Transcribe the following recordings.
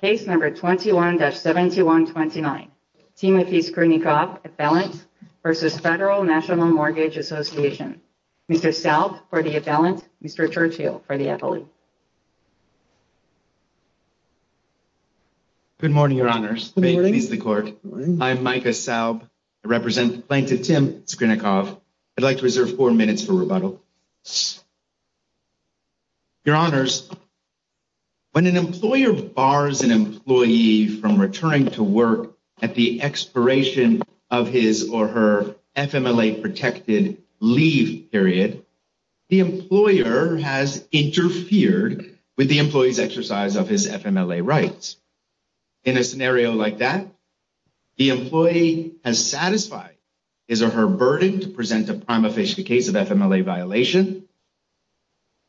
Case number 21-7129, Timothy Skrynnikov, appellant versus Federal National Mortgage Association. Mr. Saub for the appellant, Mr. Churchill for the appellate. Good morning, your honors. Good morning. May it please the court. I'm Micah Saub. I represent Plaintiff Tim Skrynnikov. I'd like to reserve four minutes for rebuttal. Your honors, when an employer bars an employee from returning to work at the expiration of his or her FMLA-protected leave period, the employer has interfered with the employee's exercise of his FMLA rights. In a scenario like that, the employee has satisfied his or her burden to present a prima violation.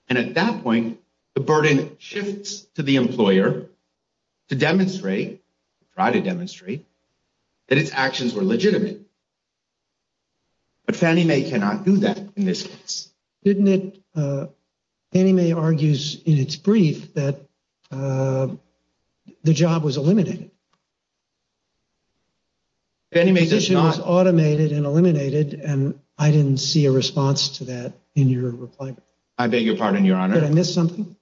And at that point, the burden shifts to the employer to demonstrate, try to demonstrate, that its actions were legitimate. But Fannie Mae cannot do that in this case, didn't it? Fannie Mae argues in its brief that the job was eliminated. Fannie Mae does not- The position was automated and eliminated, and I didn't see a response to that in your reply. I beg your pardon, your honor. Did I miss something?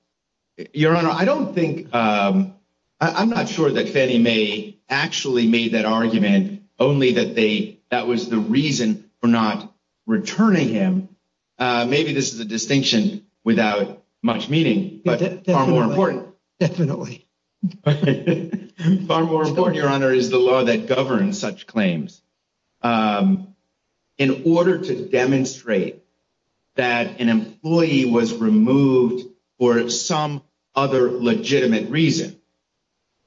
Your honor, I don't think, I'm not sure that Fannie Mae actually made that argument, only that they, that was the reason for not returning him. Maybe this is a distinction without much meaning, but far more important. Definitely. Far more important, your honor, is the law that governs such claims. In order to demonstrate that an employee was removed for some other legitimate reason,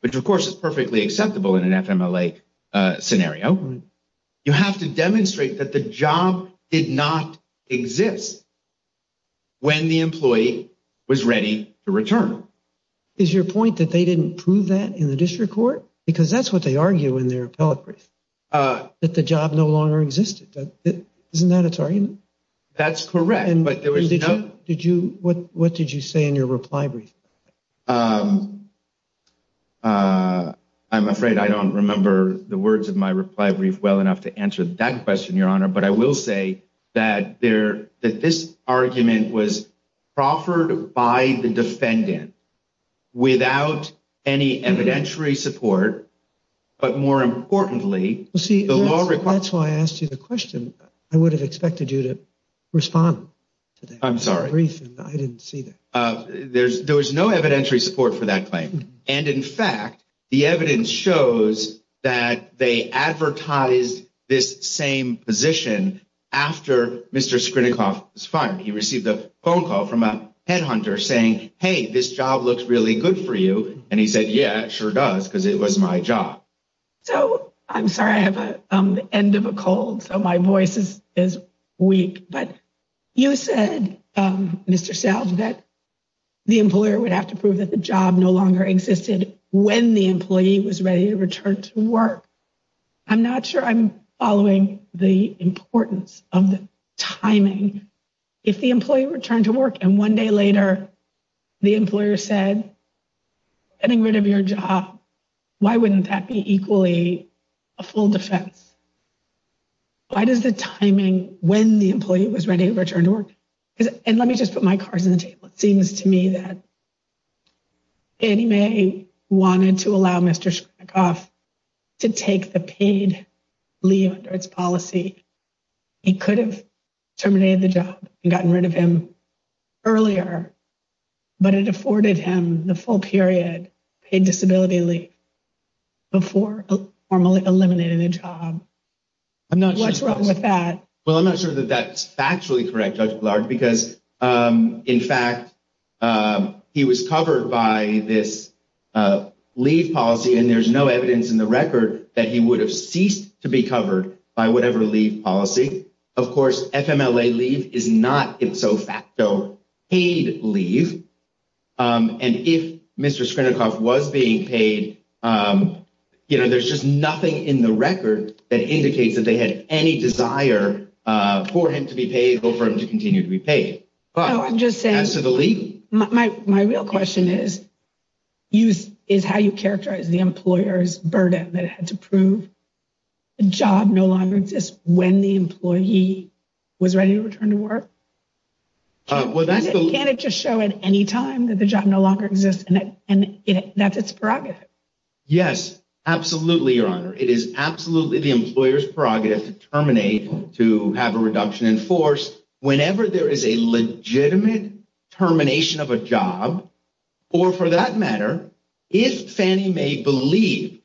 which, of course, is perfectly acceptable in an FMLA scenario, you have to demonstrate that the job did not exist when the employee was ready to return. Is your point that they didn't prove that in the district court? Because that's what they argue in their appellate brief, that the job no longer existed. Isn't that its argument? That's correct, but there was no- What did you say in your reply brief? I'm afraid I don't remember the words of my reply brief well enough to answer that question, your honor. But I will say that this argument was proffered by the defendant without any evidentiary support, but more importantly, the law requires- See, that's why I asked you the question. I would have expected you to respond to that brief, and I didn't see that. I'm sorry. There was no evidentiary support for that claim. And, in fact, the evidence shows that they advertised this same position after Mr. Skrinnikoff was fired. He received a phone call from a headhunter saying, hey, this job looks really good for you. And he said, yeah, it sure does, because it was my job. So I'm sorry, I have the end of a cold, so my voice is weak. But you said, Mr. Selv, that the employer would have to prove that the job no longer existed when the employee was ready to return to work. I'm not sure I'm following the importance of the timing. If the employee returned to work and one day later the employer said, getting rid of your job, why wouldn't that be equally a full defense? Why does the timing when the employee was ready to return to work? And let me just put my cards on the table. It seems to me that Annie Mae wanted to allow Mr. Skrinnikoff to take the paid leave under its policy. He could have terminated the job and gotten rid of him earlier. But it afforded him the full period paid disability leave before formally eliminating the job. I'm not sure what's wrong with that. Well, I'm not sure that that's factually correct, Judge Blarg, because, in fact, he was covered by this leave policy. And there's no evidence in the record that he would have ceased to be covered by whatever leave policy. Of course, FMLA leave is not, if so facto, paid leave. And if Mr. Skrinnikoff was being paid, you know, there's just nothing in the record that indicates that they had any desire for him to be paid or for him to continue to be paid. My real question is, is how you characterize the employer's burden that it had to prove a job no longer exists when the employee was ready to return to work? Well, that's the. Can't it just show at any time that the job no longer exists? And that's its prerogative. Yes, absolutely, Your Honor. It is absolutely the employer's prerogative to terminate, to have a reduction in force. Whenever there is a legitimate termination of a job or, for that matter, if Fannie Mae believed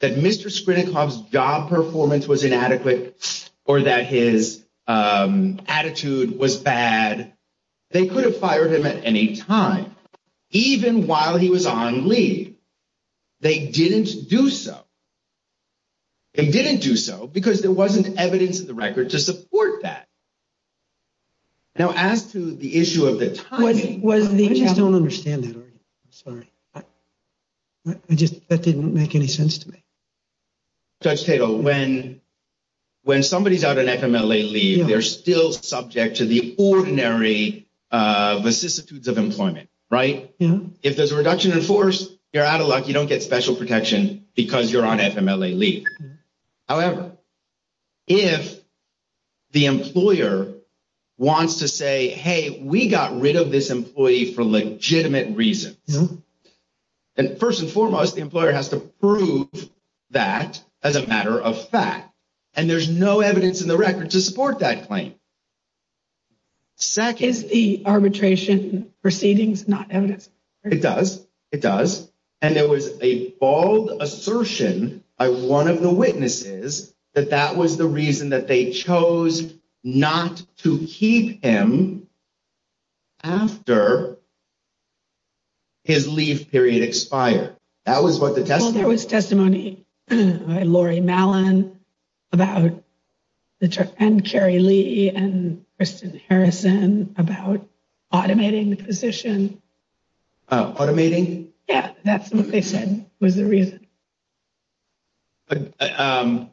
that Mr. Skrinnikoff's job performance was inadequate or that his attitude was bad, they could have fired him at any time, even while he was on leave. They didn't do so. They didn't do so because there wasn't evidence in the record to support that. Now, as to the issue of the timing. I just don't understand that argument. I'm sorry. That didn't make any sense to me. Judge Tatel, when somebody's out on FMLA leave, they're still subject to the ordinary vicissitudes of employment, right? If there's a reduction in force, you're out of luck. You don't get special protection because you're on FMLA leave. However, if the employer wants to say, hey, we got rid of this employee for legitimate reasons. And first and foremost, the employer has to prove that as a matter of fact. And there's no evidence in the record to support that claim. Second, is the arbitration proceedings not evidence? It does. It does. And there was a bold assertion by one of the witnesses that that was the reason that they chose not to keep him. After. His leave period expired. That was what the test was testimony. Laurie Malin about the trip and Carrie Lee and Kristen Harrison about automating the position. Automating. Yeah, that's what they said was the reason. I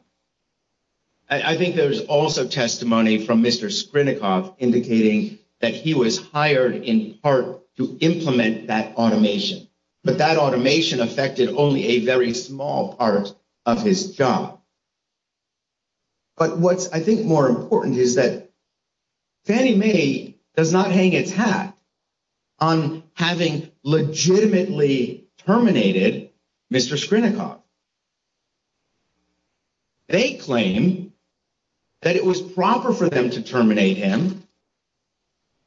think there's also testimony from Mr. Sprint off indicating that he was hired in part to implement that automation. But that automation affected only a very small part of his job. But what's I think more important is that Fannie Mae does not hang its hat on having legitimately terminated Mr. They claim that it was proper for them to terminate him.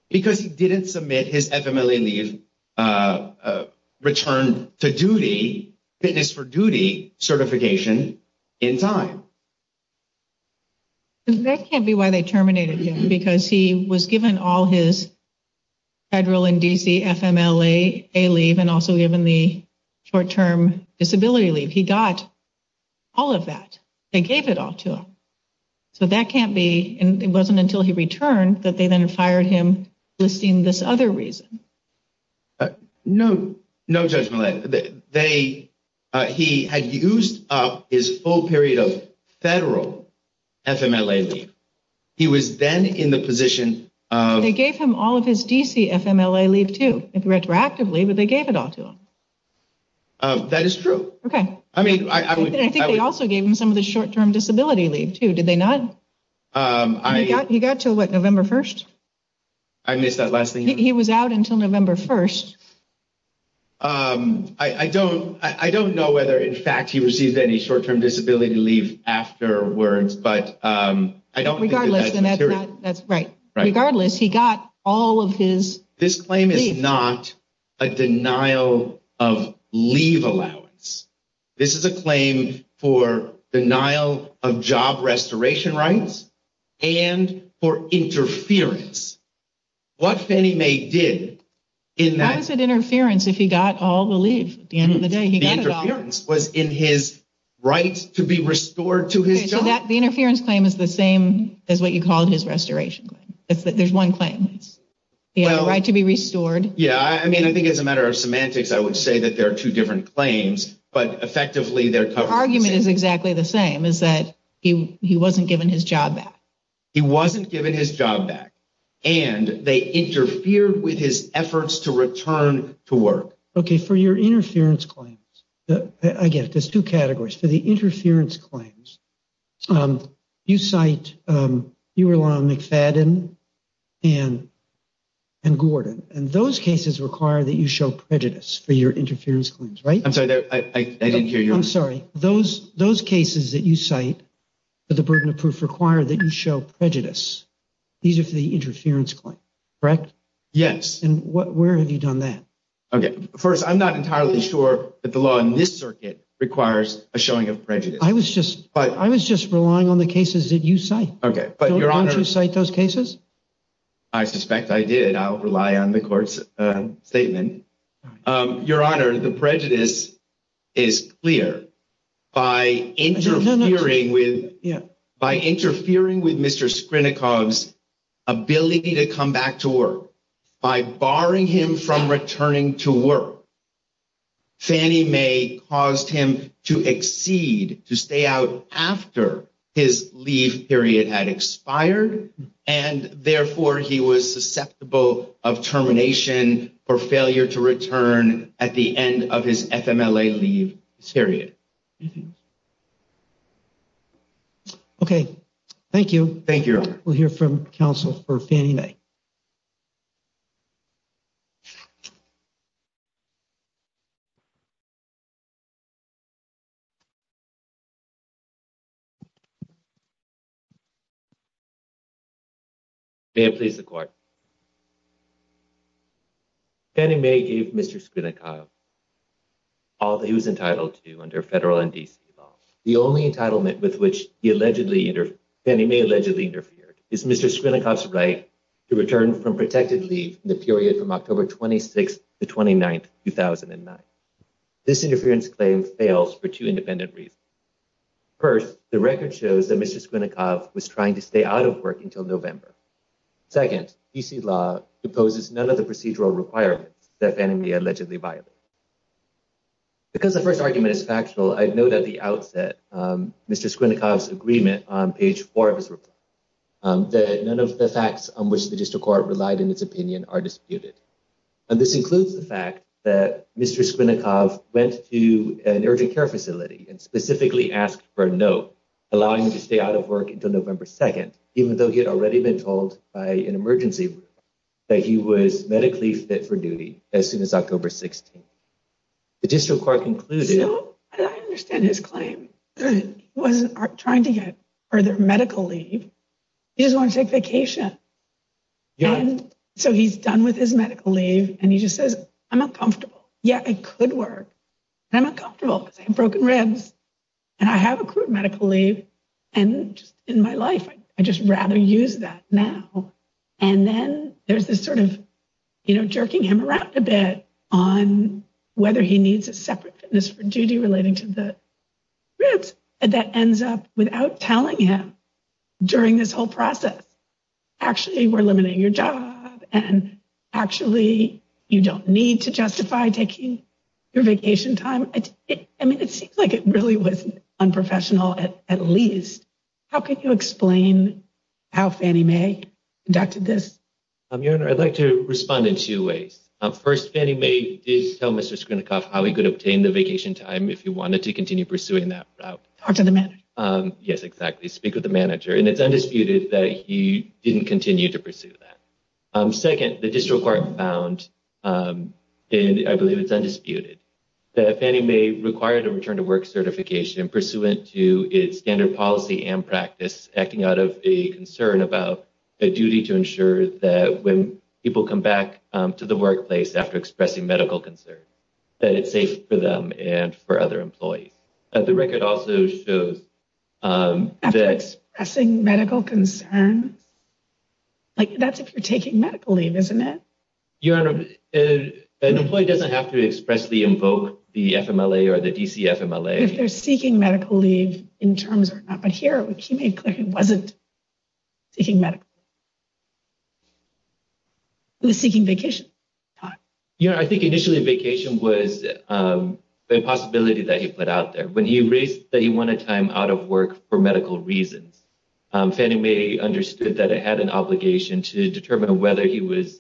Because he didn't submit his family leave return to duty fitness for duty certification in time. That can't be why they terminated him, because he was given all his federal and D.C. FMLA, a leave and also given the short term disability leave. He got all of that. They gave it all to him. So that can't be. And it wasn't until he returned that they then fired him. Listing this other reason. No, no judgment. They he had used up his full period of federal FMLA. He was then in the position. They gave him all of his D.C. FMLA leave to retroactively. But they gave it all to him. That is true. OK, I mean, I think they also gave him some of the short term disability leave, too. Did they not? He got to what? November 1st. I missed that last thing. He was out until November 1st. I don't I don't know whether, in fact, he received any short term disability leave afterwards, but I don't think that's right. Regardless, he got all of his. This claim is not a denial of leave allowance. This is a claim for denial of job restoration rights and for interference. What Fannie Mae did in that was an interference. If he got all the leave at the end of the day, he was in his right to be restored to his job. That the interference claim is the same as what you called his restoration. It's that there's one claim. It's the right to be restored. Yeah, I mean, I think it's a matter of semantics. I would say that there are two different claims, but effectively their argument is exactly the same as that. He wasn't given his job back. He wasn't given his job back. And they interfered with his efforts to return to work. OK, for your interference claims, I guess there's two categories for the interference claims. You cite you rely on McFadden and. And Gordon and those cases require that you show prejudice for your interference claims, right? I'm sorry. I didn't hear you. I'm sorry. Those those cases that you cite for the burden of proof require that you show prejudice. These are for the interference claim, correct? Yes. And where have you done that? OK, first, I'm not entirely sure that the law in this circuit requires a showing of prejudice. I was just I was just relying on the cases that you say. OK, but you're on to cite those cases. I suspect I did. I'll rely on the court's statement. Your Honor, the prejudice is clear. No, no, no. Yeah. Anything else? OK, thank you. Thank you. We'll hear from counsel for Fannie Mae. And please, the court. Fannie Mae gave Mr. All that he was entitled to under federal and D.C. right to return from protected leave in the period from October 26th to 29th. Two thousand and nine. This interference claim fails for two independent reasons. First, the record shows that Mr. Squinnikov was trying to stay out of work until November. Second, you see law imposes none of the procedural requirements that Fannie Mae allegedly violated. Because the first argument is factual, I know that the outset, Mr. Squinnikov's agreement on page four of his report that none of the facts on which the district court relied in its opinion are disputed. And this includes the fact that Mr. Squinnikov went to an urgent care facility and specifically asked for a note allowing him to stay out of work until November 2nd, even though he had already been told by an emergency that he was medically fit for duty as soon as October 16th. The district court concluded. I understand his claim was trying to get further medical leave. You just want to take vacation. And so he's done with his medical leave and he just says, I'm uncomfortable. Yeah, I could work. I'm uncomfortable because I have broken ribs and I have a medical leave. And in my life, I just rather use that now. And then there's this sort of, you know, jerking him around a bit on whether he needs a separate fitness for duty relating to the ribs. And that ends up without telling him during this whole process. Actually, we're limiting your job and actually you don't need to justify taking your vacation time. I mean, it seems like it really was unprofessional, at least. How can you explain how Fannie Mae conducted this? Your Honor, I'd like to respond in two ways. First, Fannie Mae did tell Mr. Skrinnikov how he could obtain the vacation time if he wanted to continue pursuing that route. Talk to the manager. Yes, exactly. Speak with the manager. And it's undisputed that he didn't continue to pursue that. Second, the district court found, and I believe it's undisputed, that Fannie Mae required a return to work certification pursuant to its standard policy and practice, acting out of a concern about a duty to ensure that when people come back to the workplace after expressing medical concern, that it's safe for them and for other employees. The record also shows that... After expressing medical concern? Like, that's if you're taking medical leave, isn't it? Your Honor, an employee doesn't have to expressly invoke the FMLA or the DC FMLA. If they're seeking medical leave in terms or not, but here he made clear he wasn't seeking medical leave. He was seeking vacation time. Your Honor, I think initially vacation was a possibility that he put out there. When he raised that he wanted time out of work for medical reasons, Fannie Mae understood that it had an obligation to determine whether he was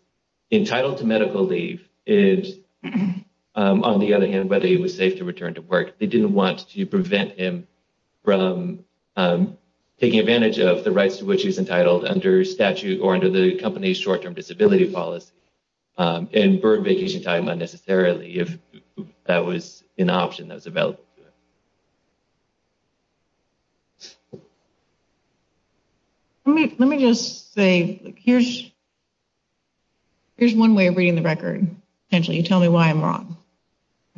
entitled to medical leave. And on the other hand, whether he was safe to return to work. They didn't want to prevent him from taking advantage of the rights to which he was entitled under statute or under the company's short term disability policy and burn vacation time unnecessarily. If that was an option that was developed. Let me just say, here's one way of reading the record. You tell me why I'm wrong.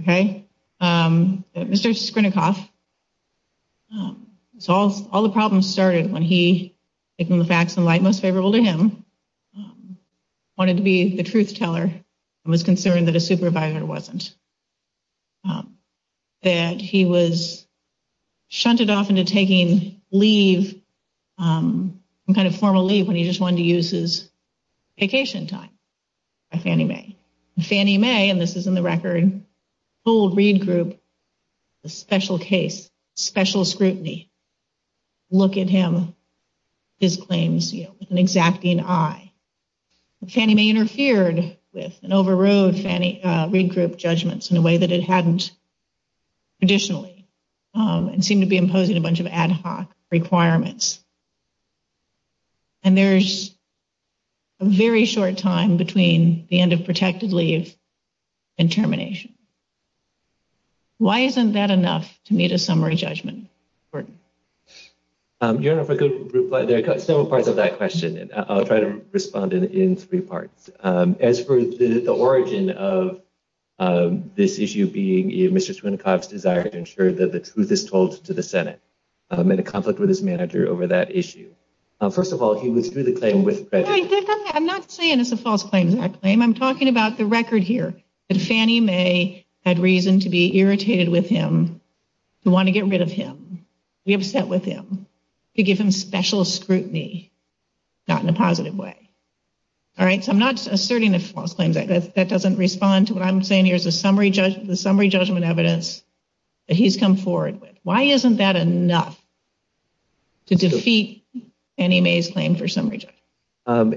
Okay? Mr. Skrinnikoff, all the problems started when he, taking the facts in light most favorable to him, wanted to be the truth teller and was concerned that a supervisor wasn't. That he was shunted off into taking leave, some kind of formal leave when he just wanted to use his vacation time by Fannie Mae. Fannie Mae, and this is in the record, told Reed Group a special case, special scrutiny. Look at him, his claims with an exacting eye. Fannie Mae interfered with and overrode Reed Group judgments in a way that it hadn't traditionally. And seemed to be imposing a bunch of ad hoc requirements. And there's a very short time between the end of protected leave and termination. Why isn't that enough to meet a summary judgment? There are several parts of that question. I'll try to respond in three parts. As for the origin of this issue being Mr. Skrinnikoff's desire to ensure that the truth is told to the Senate. And a conflict with his manager over that issue. First of all, he withdrew the claim with credit. I'm not saying it's a false claim. I'm talking about the record here. That Fannie Mae had reason to be irritated with him. To want to get rid of him. To be upset with him. To give him special scrutiny. Not in a positive way. All right, so I'm not asserting a false claim. That doesn't respond to what I'm saying here is the summary judgment evidence that he's come forward with. Why isn't that enough to defeat Fannie Mae's claim for summary judgment?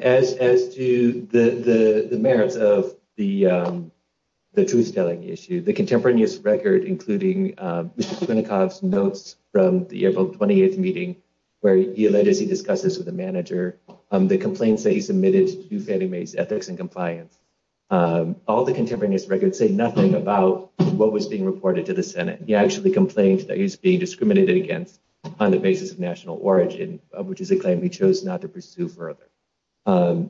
As to the merits of the truth-telling issue. The contemporaneous record including Mr. Skrinnikoff's notes from the April 28th meeting where he alleged he discussed this with the manager. The complaints that he submitted to Fannie Mae's ethics and compliance. All the contemporaneous records say nothing about what was being reported to the Senate. He actually complained that he was being discriminated against on the basis of national origin. Which is a claim he chose not to pursue further.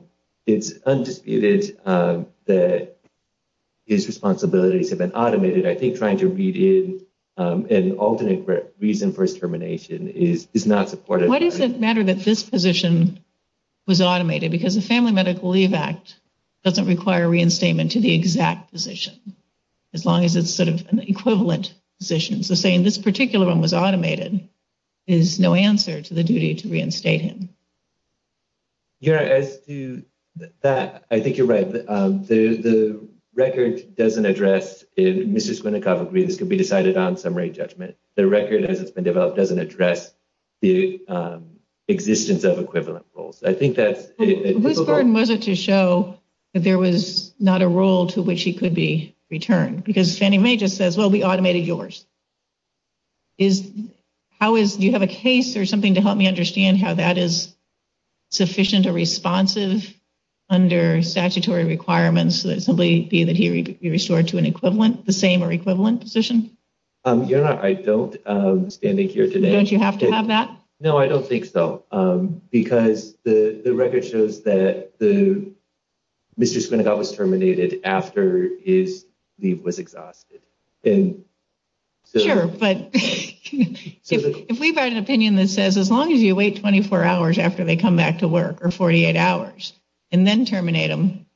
It's undisputed that his responsibilities have been automated. I think trying to read in an alternate reason for his termination is not supportive. Why does it matter that this position was automated? Because the Family Medical Leave Act doesn't require reinstatement to the exact position. As long as it's sort of an equivalent position. So saying this particular one was automated is no answer to the duty to reinstate him. As to that, I think you're right. The record doesn't address if Mr. Skrinnikoff agreed this could be decided on summary judgment. The record as it's been developed doesn't address the existence of equivalent roles. Whose burden was it to show that there was not a role to which he could be returned? Because Fannie Mae just says, well, we automated yours. Do you have a case or something to help me understand how that is sufficient or responsive under statutory requirements? Simply that he be restored to an equivalent, the same or equivalent position? I don't, standing here today. Don't you have to have that? No, I don't think so. Because the record shows that Mr. Skrinnikoff was terminated after his leave was exhausted. Sure, but if we've had an opinion that says as long as you wait 24 hours after they come back to work or 48 hours and then terminate him,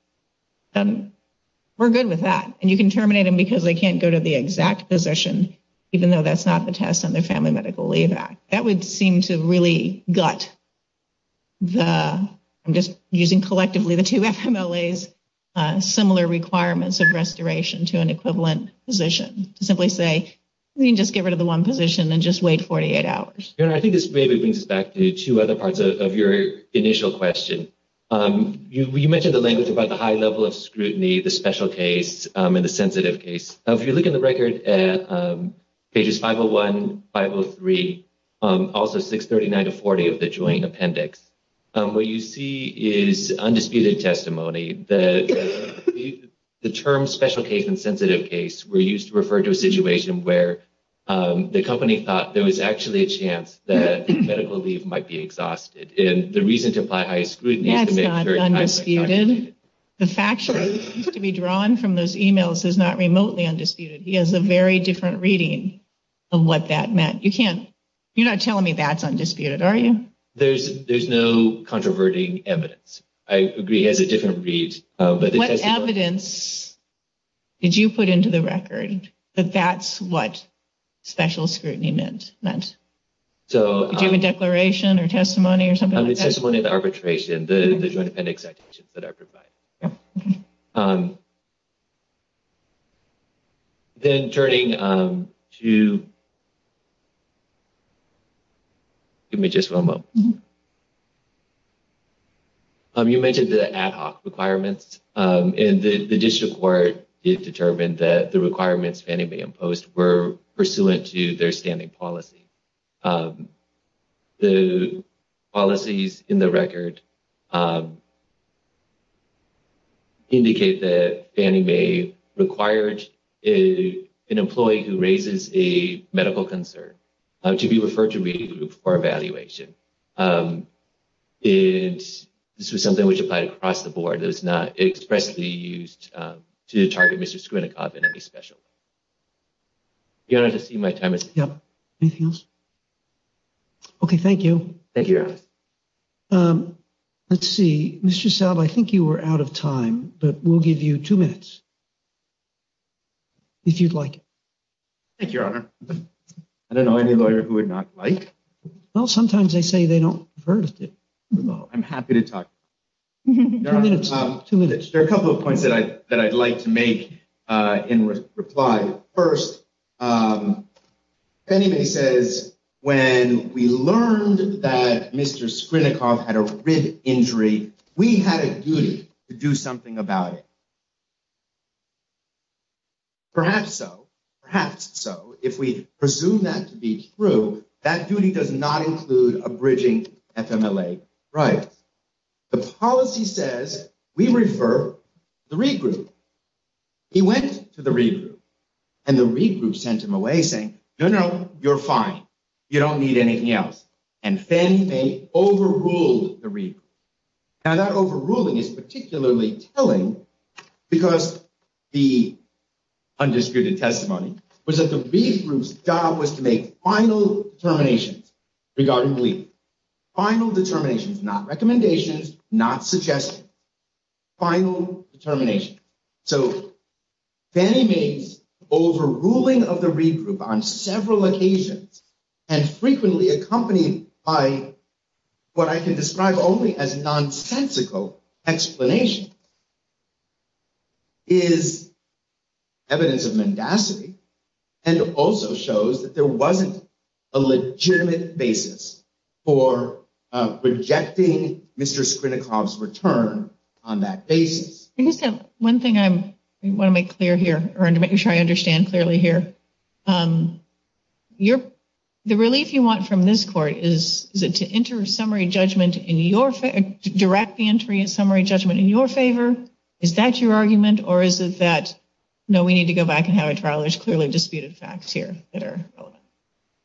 we're good with that. And you can terminate him because they can't go to the exact position, even though that's not the test under Family Medical Leave Act. That would seem to really gut the, I'm just using collectively the two FMLAs, similar requirements of restoration to an equivalent position. To simply say, we can just get rid of the one position and just wait 48 hours. I think this maybe brings us back to two other parts of your initial question. You mentioned the language about the high level of scrutiny, the special case, and the sensitive case. If you look in the record at pages 501, 503, also 639 to 40 of the joint appendix, what you see is undisputed testimony. The term special case and sensitive case were used to refer to a situation where the company thought there was actually a chance that medical leave might be exhausted. That's not undisputed. The fact sheet used to be drawn from those emails is not remotely undisputed. He has a very different reading of what that meant. You're not telling me that's undisputed, are you? There's no controverting evidence. I agree it has a different read. What evidence did you put into the record that that's what special scrutiny meant? Did you have a declaration or testimony or something like that? Testimony and arbitration, the joint appendix citations that I provided. OK. Then turning to. Give me just one moment. You mentioned the ad hoc requirements and the district court determined that the requirements Fannie Mae imposed were pursuant to their standing policy. The policies in the record. Indicate that Fannie Mae required a an employee who raises a medical concern to be referred to read a group for evaluation. And this was something which applied across the board is not expressly used to target Mr. I think you were out of time, but we'll give you two minutes. If you'd like. Thank you, Your Honor. I don't know any lawyer who would not like. Well, sometimes they say they don't. I'm happy to talk. Two minutes. There are a couple of points that I that I'd like to make. In reply, first. Fannie Mae says when we learned that Mr. Skrinnikoff had a rib injury, we had a duty to do something about it. Perhaps so, perhaps so, if we presume that to be true, that duty does not include a bridging FMLA rights. The policy says we refer the regroup. He went to the regroup and the regroup sent him away, saying, no, no, you're fine. You don't need anything else. And Fannie Mae overruled the regroup. Now, that overruling is particularly telling because the undisputed testimony was that the regroup's job was to make final determinations. Regarding the final determinations, not recommendations, not suggesting final determination. So Fannie Mae's overruling of the regroup on several occasions and frequently accompanied by what I can describe only as nonsensical explanation. Is evidence of mendacity and also shows that there wasn't a legitimate basis for rejecting Mr. Skrinnikoff's return on that basis. One thing I want to make clear here or to make sure I understand clearly here. The relief you want from this court is to enter summary judgment in your favor, direct the entry of summary judgment in your favor. Is that your argument or is it that, no, we need to go back and have a trial? There's clearly disputed facts here that are relevant.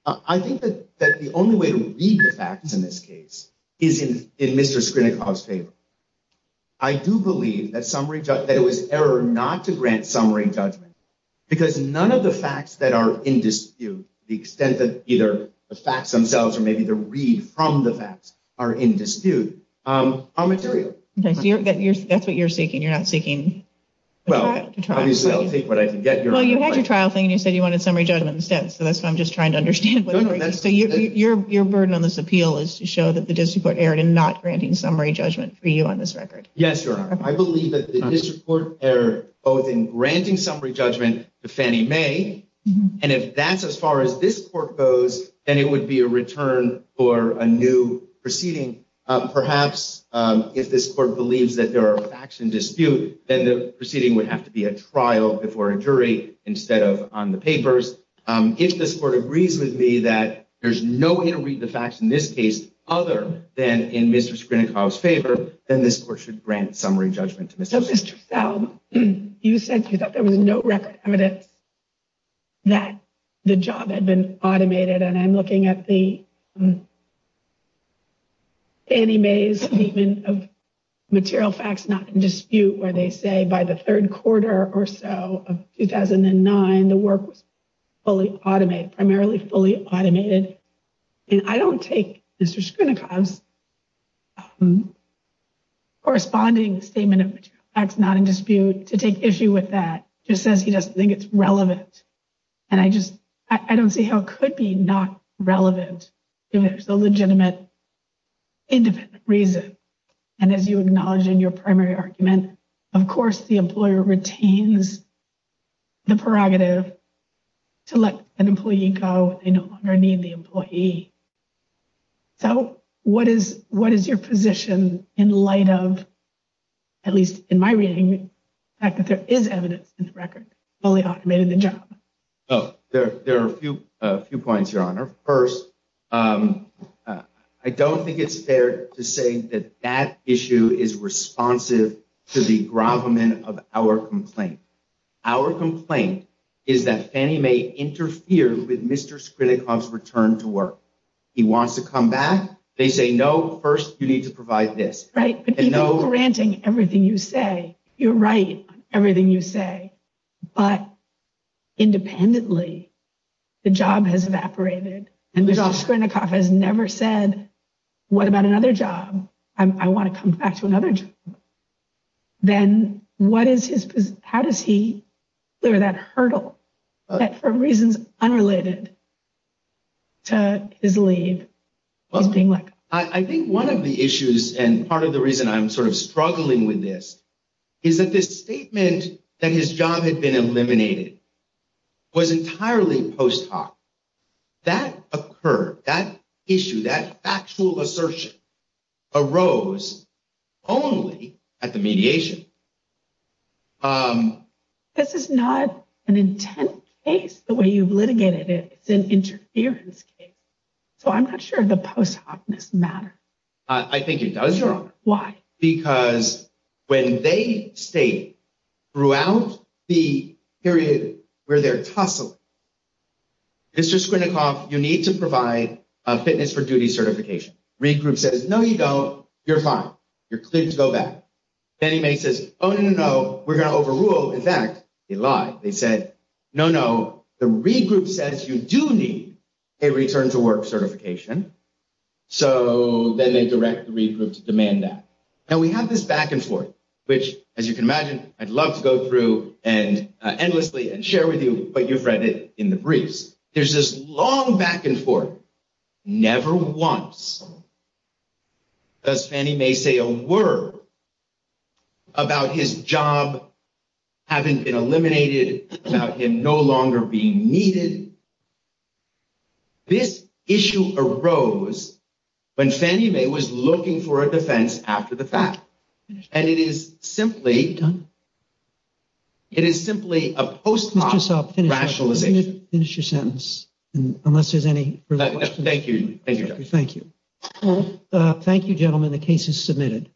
I think that the only way to read the facts in this case is in Mr. Skrinnikoff's favor. I do believe that it was error not to grant summary judgment because none of the facts that are in dispute, the extent that either the facts themselves or maybe the read from the facts are in dispute, are material. Okay, so that's what you're seeking. You're not seeking a trial? Well, obviously I'll take what I can get. Well, you had your trial thing and you said you wanted summary judgment instead, so that's what I'm just trying to understand. Your burden on this appeal is to show that the district court erred in not granting summary judgment for you on this record. Yes, Your Honor. I believe that the district court erred both in granting summary judgment to Fannie Mae, and if that's as far as this court goes, then it would be a return for a new proceeding. Perhaps if this court believes that there are facts in dispute, then the proceeding would have to be a trial before a jury instead of on the papers. If this court agrees with me that there's no inter-reading of the facts in this case other than in Mr. Skrinnikoff's favor, then this court should grant summary judgment to Mr. Skrinnikoff. Ms. Trussell, you said you thought there was no record evidence that the job had been automated. And I'm looking at the Fannie Mae's statement of material facts not in dispute where they say by the third quarter or so of 2009, the work was fully automated, primarily fully automated. And I don't take Mr. Skrinnikoff's corresponding statement of material facts not in dispute to take issue with that. It just says he doesn't think it's relevant. And I just, I don't see how it could be not relevant if there's a legitimate independent reason. And as you acknowledge in your primary argument, of course, the employer retains the prerogative to let an employee go when they no longer need the employee. So what is what is your position in light of, at least in my reading, the fact that there is evidence in the record fully automated the job? Oh, there are a few points, Your Honor. First, I don't think it's fair to say that that issue is responsive to the gravamen of our complaint. Our complaint is that Fannie Mae interfered with Mr. Skrinnikoff's return to work. He wants to come back. They say, no, first you need to provide this. Right. But even granting everything you say, you're right. Everything you say. But independently, the job has evaporated and Mr. Skrinnikoff has never said, what about another job? I want to come back to another job. Then what is his position? How does he clear that hurdle that for reasons unrelated to his leave? Well, I think one of the issues and part of the reason I'm sort of struggling with this is that this statement that his job had been eliminated was entirely post hoc. That occurred, that issue, that factual assertion arose only at the mediation. This is not an intent case, the way you've litigated it. It's an interference case. So I'm not sure the post hocness matters. I think it does, Your Honor. Why? Because when they state throughout the period where they're tussling, Mr. Skrinnikoff, you need to provide a fitness for duty certification. Regroup says, no, you don't. You're fine. You're cleared to go back. Then he makes this, oh, no, no, no, we're going to overrule. In fact, they lie. They said, no, no, the regroup says you do need a return to work certification. So then they direct the regroup to demand that. And we have this back and forth, which, as you can imagine, I'd love to go through and endlessly and share with you, but you've read it in the briefs. There's this long back and forth, never once does Fannie Mae say a word about his job having been eliminated, about him no longer being needed. This issue arose when Fannie Mae was looking for a defense after the fact, and it is simply done. It is simply a post hoc rationalization. Finish your sentence unless there's any. Thank you. Thank you. Thank you. Thank you, gentlemen. The case is submitted.